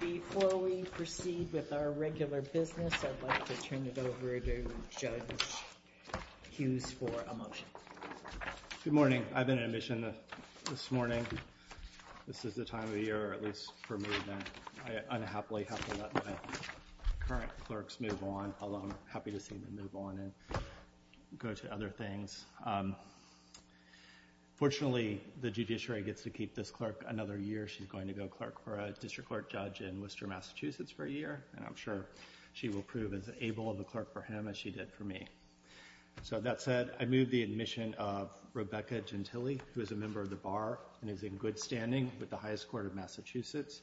Before we proceed with our regular business, I'd like to turn it over to Judge Hughes for a motion. Good morning. I've been in admission this morning. This is the time of year, or at least for me, that I unhappily have to let my current clerks move on, although I'm happy to see them move on and go to other things. Fortunately, the judiciary gets to keep this clerk another year. She's going to go clerk for a district court judge in Worcester, Massachusetts for a year, and I'm sure she will prove as able of a clerk for him as she did for me. So that said, I move the admission of Rebecca Gentile, who is a member of the Bar and is in good standing with the highest court of Massachusetts.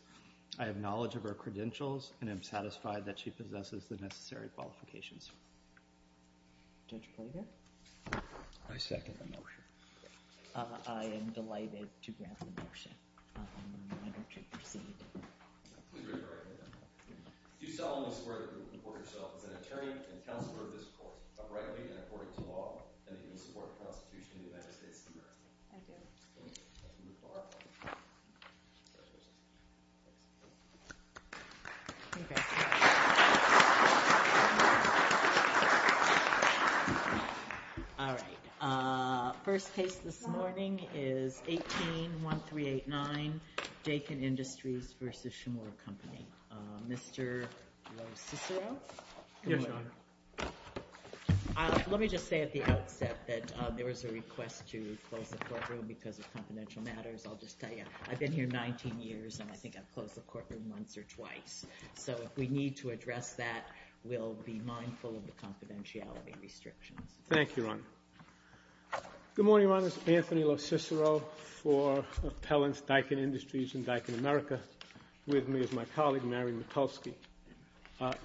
I have knowledge of her credentials, and I'm satisfied that she possesses the necessary qualifications. Judge Plater? I second the motion. I am delighted to grant the motion. I'm reminded to proceed. Please return to your seat. You solemnly swear to report yourself as an attorney and counselor of this court, uprightly and according to law, in the human support of the Constitution of the United States of America. I do. Thank you. Okay. All right. First case this morning is 18-1389, Dakin Industries v. Shimura Company. Mr. Lo Cicero? Yes, Your Honor. Let me just say at the outset that there was a request to close the courtroom because of confidential matters. I'll just tell you, I've been here 19 years, and I think I've closed the courtroom once or twice. So if we need to address that, we'll be mindful of the confidentiality restrictions. Thank you, Your Honor. Good morning, Your Honor. This is Anthony Lo Cicero for appellants Dakin Industries and Dakin America. With me is my colleague, Mary Mikulski.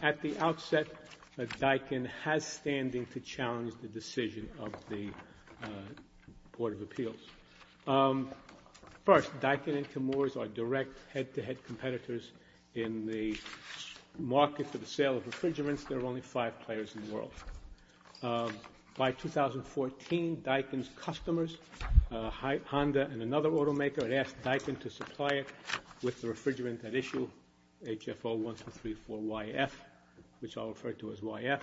At the outset, Dakin has standing to challenge the decision of the Board of Appeals. First, Dakin and Shimura are direct head-to-head competitors in the market for the sale of refrigerants. There are only five players in the world. By 2014, Dakin's customers, Honda and another automaker, had asked Dakin to supply it with the refrigerant at issue, HFO-1234YF, which I'll refer to as YF.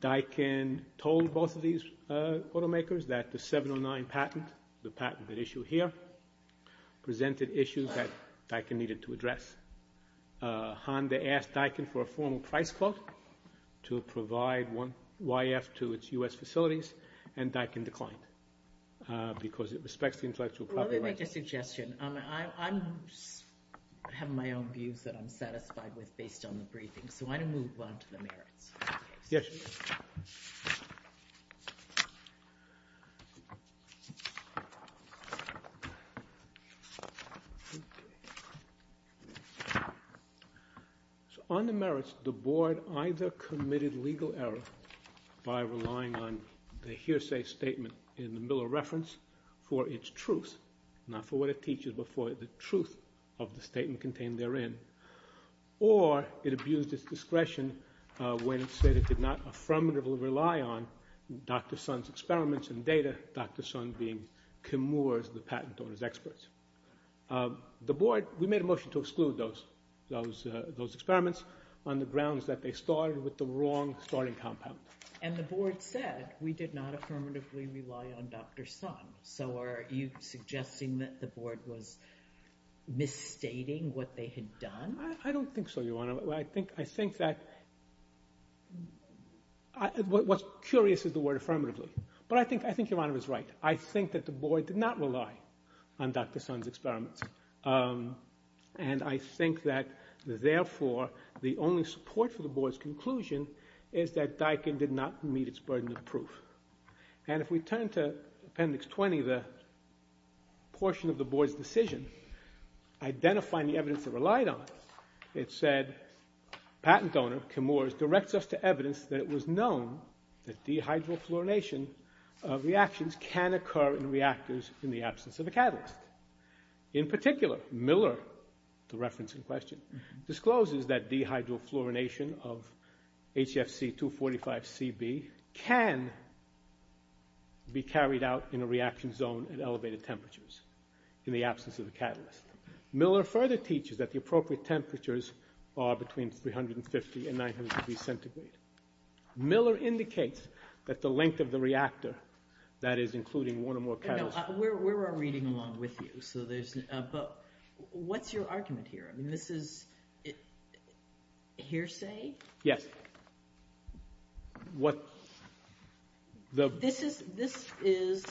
Dakin told both of these automakers that the 709 patent, the patent at issue here, presented issues that Dakin needed to address. Honda asked Dakin for a formal price quote to provide YF to its U.S. facilities, and Dakin declined because it respects the intellectual property rights. Let me make a suggestion. I have my own views that I'm satisfied with based on the briefing, so I'm going to move on to the merits. Yes. On the merits, the Board either committed legal error by relying on the hearsay statement in the Miller reference for its truth, not for what it teaches, but for the truth of the statement contained therein, or it abused its discretion when it said it did not affirmatively rely on Dr. Sun's experiments and data, Dr. Sun being Kim Moore's patent owner's expert. The Board, we made a motion to exclude those experiments on the grounds that they started with the wrong starting compound. And the Board said we did not affirmatively rely on Dr. Sun. So are you suggesting that the Board was misstating what they had done? I don't think so, Your Honor. I think that what's curious is the word affirmatively, but I think Your Honor is right. I think that the Board did not rely on Dr. Sun's experiments, and I think that therefore the only support for the Board's conclusion is that Dakin did not meet its burden of proof. And if we turn to Appendix 20, the portion of the Board's decision identifying the evidence it relied on, it said patent owner Kim Moore's directs us to evidence that it was known that dehydrofluorination of reactions can occur in reactors in the absence of a catalyst. In particular, Miller, the reference in question, discloses that dehydrofluorination of HFC245Cb can be carried out in a reaction zone at elevated temperatures in the absence of a catalyst. Miller further teaches that the appropriate temperatures are between 350 and 900 degrees centigrade. Miller indicates that the length of the reactor, that is including one or more catalysts. We're reading along with you, but what's your argument here? This is hearsay? Yes. This is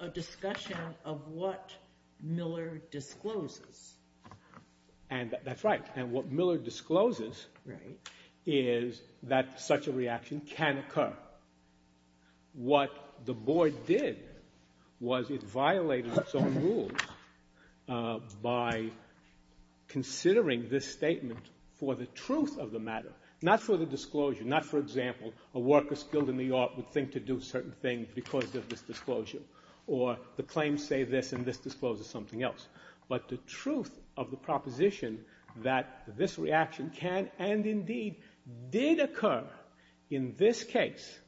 a discussion of what Miller discloses. That's right, and what Miller discloses is that such a reaction can occur. What the Board did was it violated its own rules by considering this statement for the truth of the matter, not for the disclosure, not for example, a worker skilled in the art would think to do certain things because of this disclosure, or the claims say this and this discloses something else, but the truth of the proposition that this reaction can and indeed did occur in this case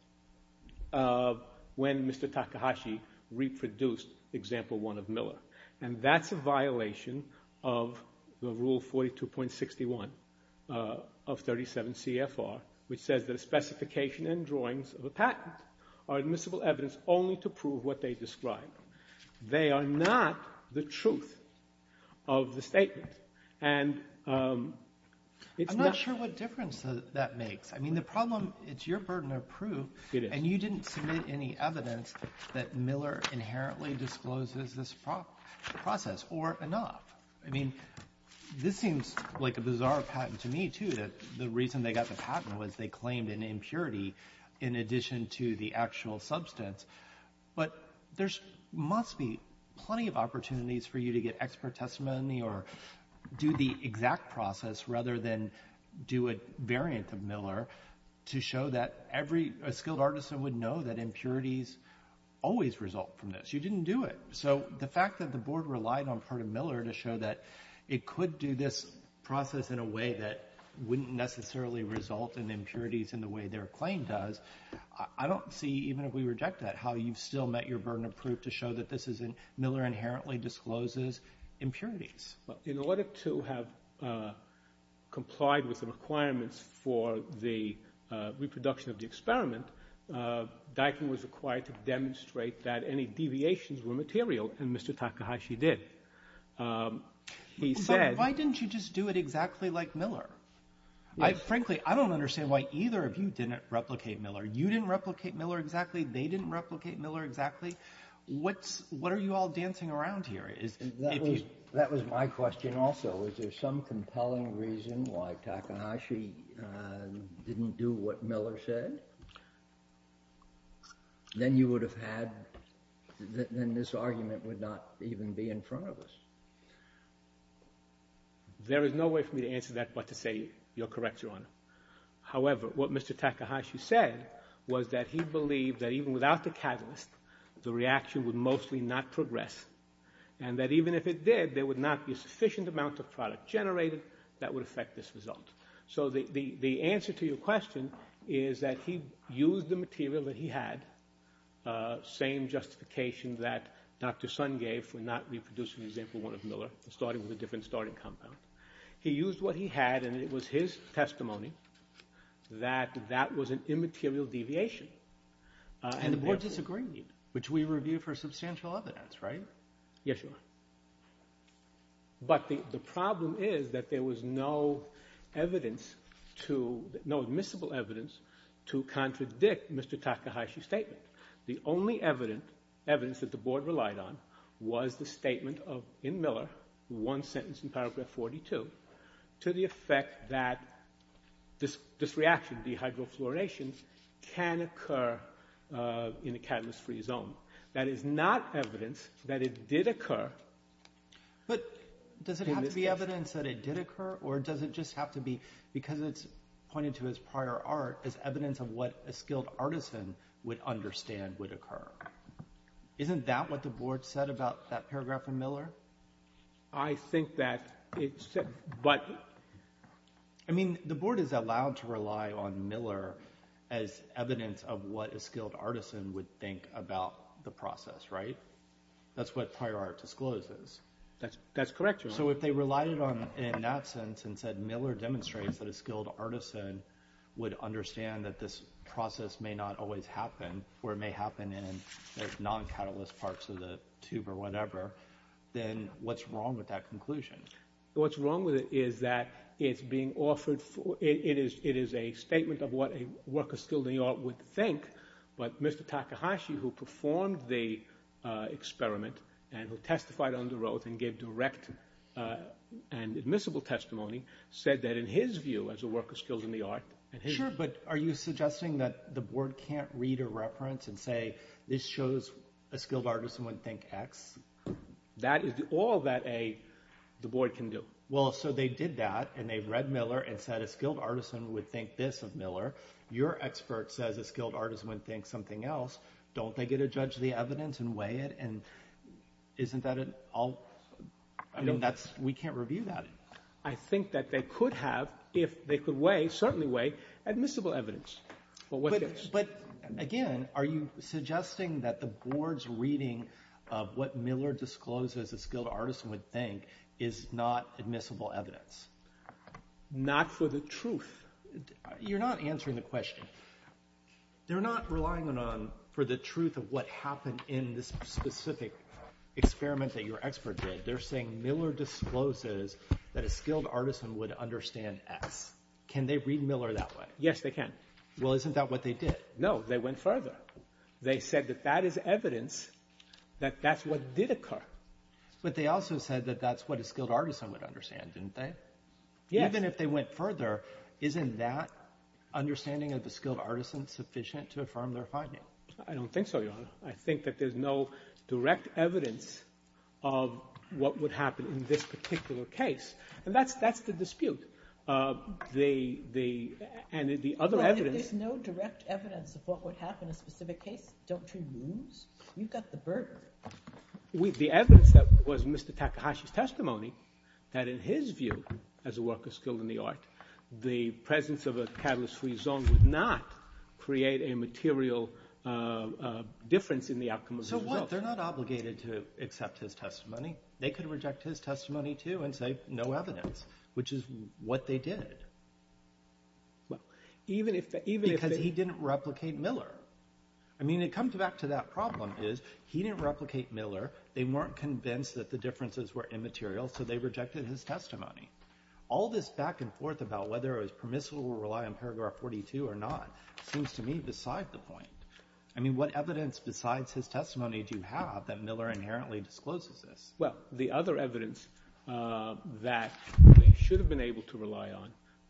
when Mr. Takahashi reproduced example one of Miller, and that's a violation of the rule 42.61 of 37 CFR, which says that a specification and drawings of a patent are admissible evidence only to prove what they describe. They are not the truth of the statement, and it's not— I'm not sure what difference that makes. I mean the problem, it's your burden of proof, and you didn't submit any evidence that Miller inherently discloses this process or enough. I mean this seems like a bizarre patent to me too that the reason they got the patent was they claimed an impurity in addition to the actual substance, but there must be plenty of opportunities for you to get expert testimony or do the exact process rather than do a variant of Miller to show that every skilled artisan would know that impurities always result from this. You didn't do it. So the fact that the board relied on part of Miller to show that it could do this process in a way that wouldn't necessarily result in impurities in the way their claim does, I don't see, even if we reject that, how you've still met your burden of proof to show that Miller inherently discloses impurities. In order to have complied with the requirements for the reproduction of the experiment, Dykin was required to demonstrate that any deviations were material, and Mr. Takahashi did. He said— Why didn't you just do it exactly like Miller? Frankly, I don't understand why either of you didn't replicate Miller. You didn't replicate Miller exactly. They didn't replicate Miller exactly. What are you all dancing around here? That was my question also. Is there some compelling reason why Takahashi didn't do what Miller said? Then you would have had—then this argument would not even be in front of us. There is no way for me to answer that but to say you're correct, Your Honor. However, what Mr. Takahashi said was that he believed that even without the catalyst, the reaction would mostly not progress, and that even if it did, there would not be a sufficient amount of product generated that would affect this result. So the answer to your question is that he used the material that he had, same justification that Dr. Sun gave for not reproducing the example one of Miller, starting with a different starting compound. He used what he had, and it was his testimony that that was an immaterial deviation. And the board disagreed, which we reviewed for substantial evidence, right? Yes, Your Honor. But the problem is that there was no evidence to—no admissible evidence to contradict Mr. Takahashi's statement. The only evidence that the board relied on was the statement in Miller, one sentence in paragraph 42, to the effect that this reaction, dehydrofluorination, can occur in a catalyst-free zone. That is not evidence that it did occur in this case. But does it have to be evidence that it did occur, or does it just have to be because it's pointed to as prior art as evidence of what a skilled artisan would understand would occur? Isn't that what the board said about that paragraph in Miller? I think that it said, but— I mean, the board is allowed to rely on Miller as evidence of what a skilled artisan would think about the process, right? That's what prior art discloses. That's correct, Your Honor. So if they relied on it in that sense and said Miller demonstrates that a skilled artisan would understand that this process may not always happen, or it may happen in non-catalyst parts of the tube or whatever, then what's wrong with that conclusion? What's wrong with it is that it's being offered—it is a statement of what a worker skilled in the art would think, but Mr. Takahashi, who performed the experiment and who testified on the road and gave direct and admissible testimony, said that in his view, as a worker skilled in the art— Sure, but are you suggesting that the board can't read a reference and say this shows a skilled artisan would think X? That is all that the board can do. Well, so they did that, and they read Miller and said a skilled artisan would think this of Miller. Your expert says a skilled artisan would think something else. Don't they get to judge the evidence and weigh it? And isn't that an all—I mean, we can't review that. I think that they could have if they could weigh, certainly weigh, admissible evidence. But again, are you suggesting that the board's reading of what Miller discloses a skilled artisan would think is not admissible evidence? Not for the truth. You're not answering the question. They're not relying on for the truth of what happened in this specific experiment that your expert did. They're saying Miller discloses that a skilled artisan would understand X. Can they read Miller that way? Yes, they can. Well, isn't that what they did? No. They went further. They said that that is evidence that that's what did occur. But they also said that that's what a skilled artisan would understand, didn't they? Yes. Even if they went further, isn't that understanding of the skilled artisan sufficient to affirm their finding? I don't think so, Your Honor. I think that there's no direct evidence of what would happen in this particular case. And that's the dispute. There's no direct evidence of what would happen in a specific case. Don't you lose? You've got the burden. The evidence that was Mr. Takahashi's testimony, that in his view, as a worker skilled in the art, the presence of a catalyst-free zone would not create a material difference in the outcome of the result. So what? They're not obligated to accept his testimony. They could reject his testimony, too, and say no evidence. Which is what they did. Because he didn't replicate Miller. I mean, it comes back to that problem is he didn't replicate Miller. They weren't convinced that the differences were immaterial, so they rejected his testimony. All this back and forth about whether it was permissible to rely on Paragraph 42 or not seems to me beside the point. I mean, what evidence besides his testimony do you have that Miller inherently discloses this? Well, the other evidence that they should have been able to rely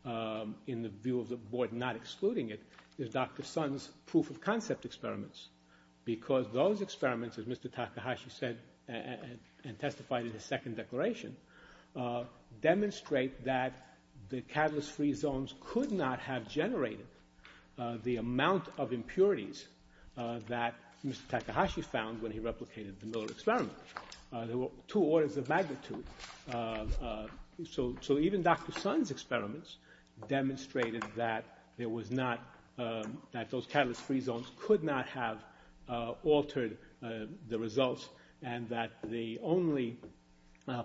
on, in the view of the Board not excluding it, is Dr. Sun's proof-of-concept experiments. Because those experiments, as Mr. Takahashi said and testified in his second declaration, demonstrate that the catalyst-free zones could not have generated the amount of impurities that Mr. Takahashi found when he replicated the Miller experiment. There were two orders of magnitude. So even Dr. Sun's experiments demonstrated that there was not – that those catalyst-free zones could not have altered the results and that the only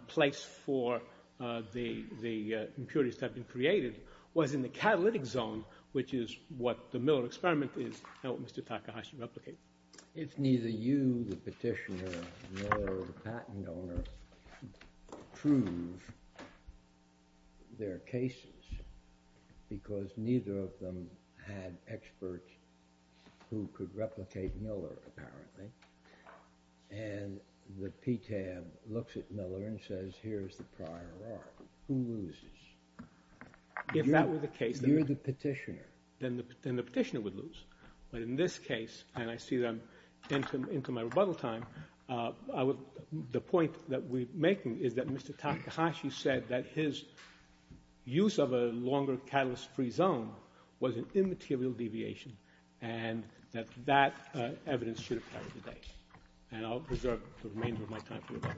place for the impurities to have been created was in the catalytic zone, which is what the Miller experiment is and what Mr. Takahashi replicated. If neither you, the petitioner, nor the patent owner prove their cases, because neither of them had experts who could replicate Miller apparently, and the PTAB looks at Miller and says, here's the prior art, who loses? If that were the case, then the petitioner would lose. But in this case, and I see them into my rebuttal time, the point that we're making is that Mr. Takahashi said that his use of a longer catalyst-free zone was an immaterial deviation and that that evidence should have carried the case. And I'll reserve the remainder of my time for the debate.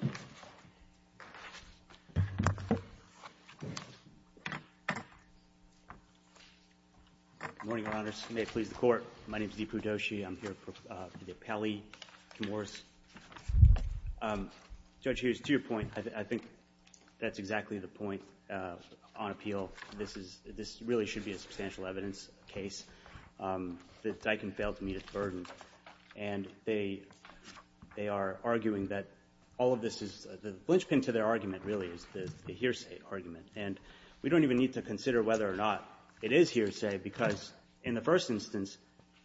Thank you. Good morning, Your Honors. May it please the Court. My name is Dipu Doshi. I'm here for the appellee, Kim Morris. Judge Hughes, to your point, I think that's exactly the point on appeal. This really should be a substantial evidence case that Dykin failed to meet its burden. And they are arguing that all of this is the linchpin to their argument, really, is the hearsay argument. And we don't even need to consider whether or not it is hearsay, because in the first instance,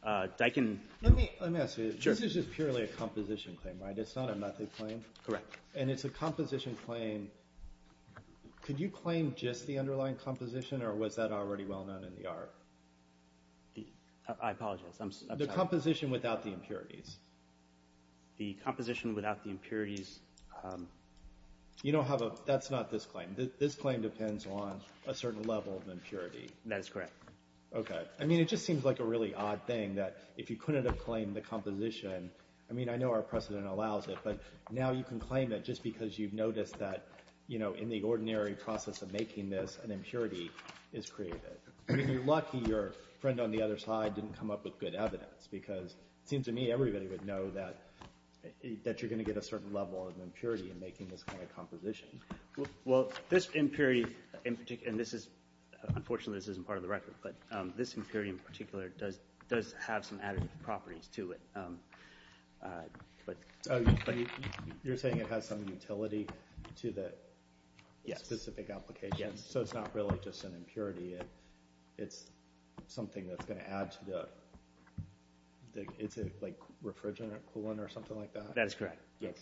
Dykin — Let me ask you. Sure. This is just purely a composition claim, right? It's not a method claim? Correct. And it's a composition claim. Could you claim just the underlying composition, or was that already well known in the art? I apologize. The composition without the impurities. The composition without the impurities. You don't have a — that's not this claim. This claim depends on a certain level of impurity. That is correct. Okay. I mean, it just seems like a really odd thing that if you couldn't have claimed the composition — I mean, I know our precedent allows it, but now you can claim it just because you've noticed that, you know, in the ordinary process of making this, an impurity is created. I mean, you're lucky your friend on the other side didn't come up with good evidence, because it seems to me everybody would know that you're going to get a certain level of impurity in making this kind of composition. Well, this impurity in particular — and this is — unfortunately, this isn't part of the record, but this impurity in particular does have some added properties to it. You're saying it has some utility to the specific application? Yes. So it's not really just an impurity. It's something that's going to add to the — is it like refrigerant or coolant or something like that? That is correct, yes.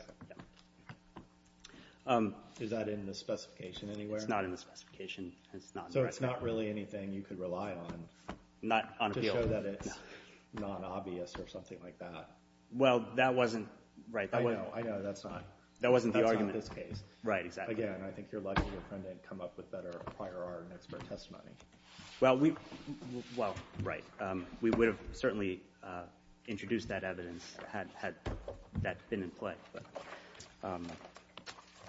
Okay. Is that in the specification anywhere? It's not in the specification. So it's not really anything you could rely on to show that it's non-obvious or something like that? Well, that wasn't — I know. I know. That's not. That wasn't the argument. That's not this case. Right. Exactly. Again, I think you're lucky your friend didn't come up with better prior art and expert testimony. Well, right. We would have certainly introduced that evidence had that been in play.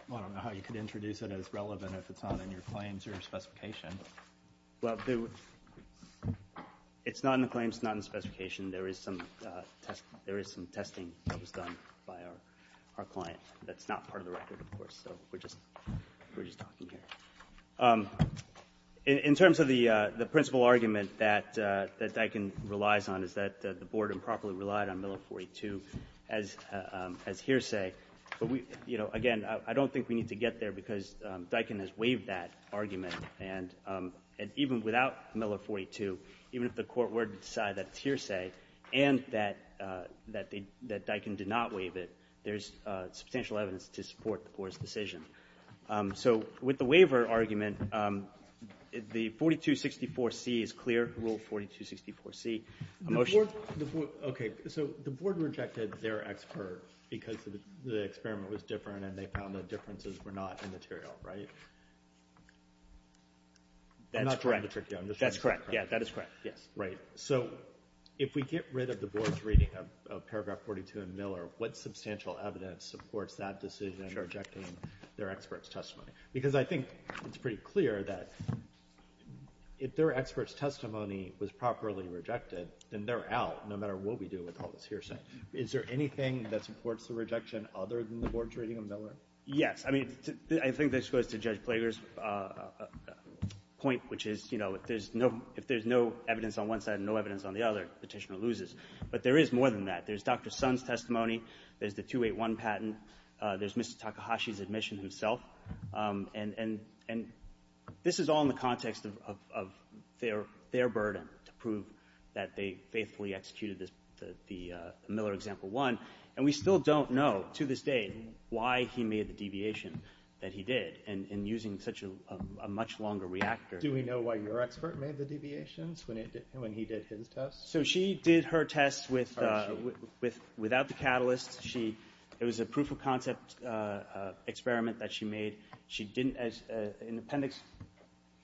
Well, I don't know how you could introduce it as relevant if it's not in your claims or your specification. Well, it's not in the claims. It's not in the specification. There is some testing that was done by our client. That's not part of the record, of course. So we're just talking here. In terms of the principal argument that Dykin relies on is that the board improperly relied on Milo 42. Again, I don't think we need to get there because Dykin has waived that argument. And even without Milo 42, even if the court were to decide that it's hearsay and that Dykin did not waive it, there's substantial evidence to support the board's decision. So with the waiver argument, the 4264C is clear, Rule 4264C. A motion? Okay. So the board rejected their expert because the experiment was different and they found the differences were not immaterial, right? I'm not trying to trick you. That's correct. Yeah, that is correct. Yes. Right. So if we get rid of the board's reading of paragraph 42 in Miller, what substantial evidence supports that decision in rejecting their expert's testimony? Because I think it's pretty clear that if their expert's testimony was properly rejected, then they're out no matter what we do with all this hearsay. Is there anything that supports the rejection other than the board's reading of Miller? Yes. I mean, I think this goes to Judge Plager's point, which is, you know, if there's no evidence on one side and no evidence on the other, the Petitioner loses. But there is more than that. There's Dr. Sun's testimony. There's the 281 patent. There's Mr. Takahashi's admission himself. And this is all in the context of their burden to prove that they faithfully executed the Miller Example 1. And we still don't know to this day why he made the deviation that he did in using such a much longer reactor. Do we know why your expert made the deviations when he did his test? So she did her test without the catalyst. It was a proof of concept experiment that she made. She didn't, in Appendix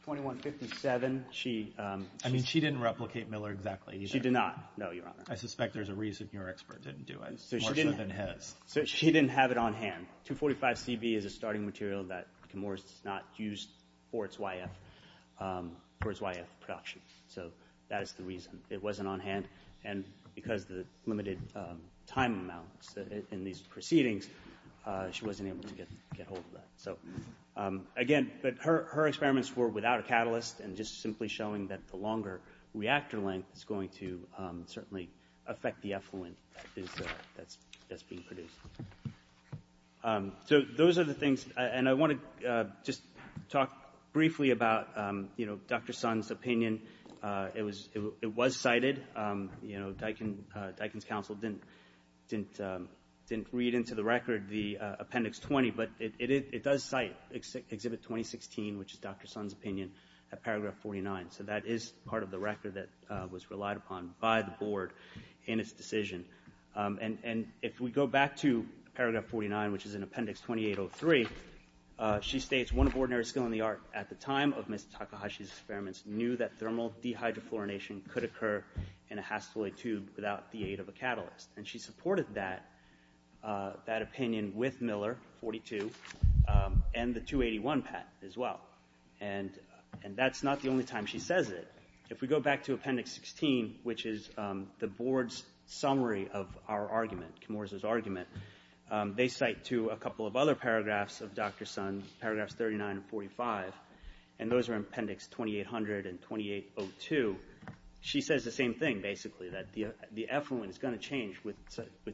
2157, she- I mean, she didn't replicate Miller exactly. She did not. No, Your Honor. I suspect there's a reason your expert didn't do it, more so than his. So she didn't have it on hand. 245CB is a starting material that Comoros does not use for its YF production. So that is the reason. It wasn't on hand. And because of the limited time amounts in these proceedings, she wasn't able to get hold of that. So, again, her experiments were without a catalyst and just simply showing that the longer reactor length is going to certainly affect the effluent that's being produced. So those are the things. And I want to just talk briefly about Dr. Sun's opinion. It was cited. You know, Dykin's counsel didn't read into the record the Appendix 20, but it does cite Exhibit 2016, which is Dr. Sun's opinion, at Paragraph 49. So that is part of the record that was relied upon by the Board in its decision. And if we go back to Paragraph 49, which is in Appendix 2803, she states, One of ordinary skill in the art at the time of Ms. Takahashi's experiments knew that thermal dehydrofluorination could occur in a hasteloid tube without the aid of a catalyst. And she supported that opinion with Miller, 42, and the 281 patent as well. And that's not the only time she says it. If we go back to Appendix 16, which is the Board's summary of our argument, Comoros' argument, they cite to a couple of other paragraphs of Dr. Sun's, Paragraphs 39 and 45. And those are Appendix 2800 and 2802. She says the same thing, basically, that the effluent is going to change with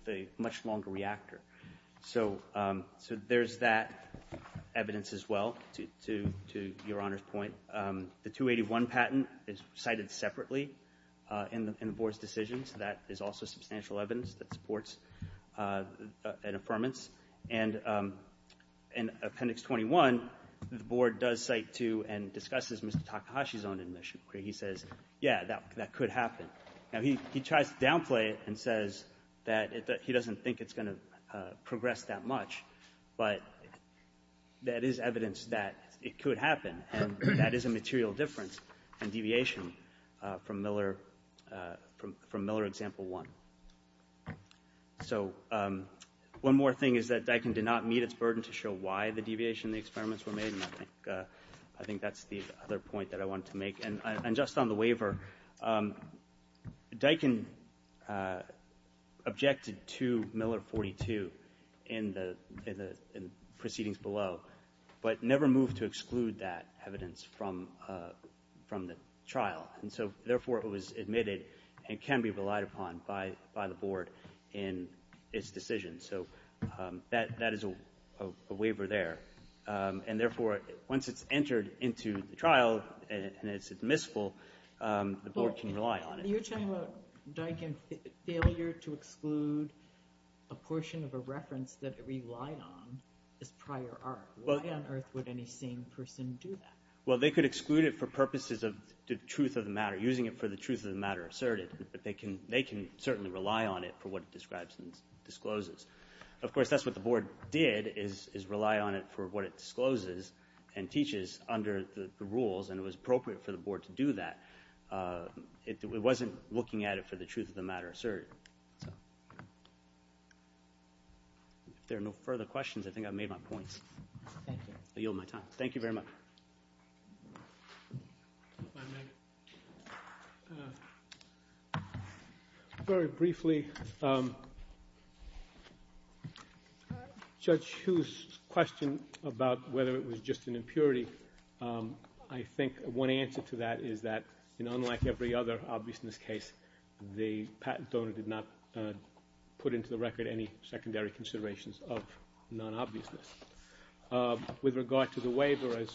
a much longer reactor. So there's that evidence as well, to Your Honor's point. The 281 patent is cited separately in the Board's decisions. That is also substantial evidence that supports an affirmance. And in Appendix 21, the Board does cite to and discusses Ms. Takahashi's own admission, where he says, yeah, that could happen. Now, he tries to downplay it and says that he doesn't think it's going to progress that much. But that is evidence that it could happen. And that is a material difference in deviation from Miller Example 1. So one more thing is that Daikin did not meet its burden to show why the deviation in the experiments were made. And I think that's the other point that I wanted to make. And just on the waiver, Daikin objected to Miller 42 in the proceedings below, but never moved to exclude that evidence from the trial. And so, therefore, it was admitted and can be relied upon by the Board in its decision. So that is a waiver there. And, therefore, once it's entered into the trial and it's admissible, the Board can rely on it. You're talking about Daikin's failure to exclude a portion of a reference that it relied on as prior art. Why on earth would any sane person do that? Well, they could exclude it for purposes of the truth of the matter, using it for the truth of the matter asserted. But they can certainly rely on it for what it describes and discloses. Of course, that's what the Board did is rely on it for what it discloses and teaches under the rules, and it was appropriate for the Board to do that. It wasn't looking at it for the truth of the matter asserted. If there are no further questions, I think I've made my points. I yield my time. Thank you very much. Very briefly, Judge Hu's question about whether it was just an impurity, I think one answer to that is that, unlike every other obviousness case, the patent donor did not put into the record any secondary considerations of non-obviousness. With regard to the waiver, as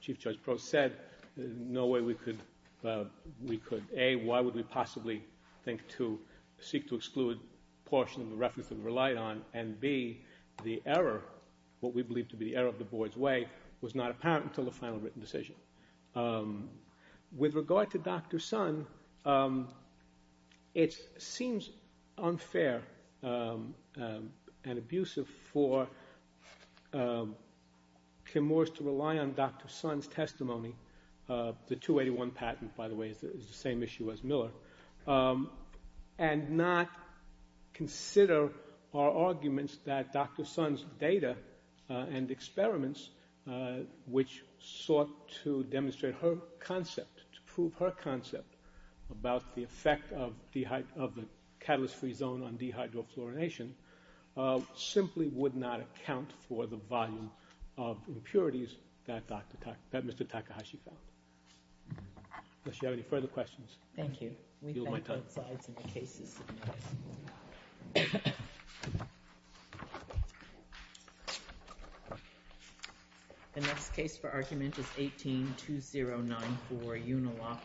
Chief Judge Prost said, there's no way we could, A, why would we possibly think to seek to exclude a portion of a reference that we relied on, and B, the error, what we believe to be the error of the Board's way, was not apparent until the final written decision. With regard to Dr. Sun, it seems unfair and abusive for Kim Morris to rely on Dr. Sun's testimony. The 281 patent, by the way, is the same issue as Miller. And not consider our arguments that Dr. Sun's data and experiments, which sought to demonstrate her concept, to prove her concept about the effect of the catalyst-free zone on dehydrofluorination, simply would not account for the volume of impurities that Mr. Takahashi found. Does she have any further questions? Thank you. We thank both sides in the cases submitted. The next case for argument is 18-2094, Unilock v. Atkin.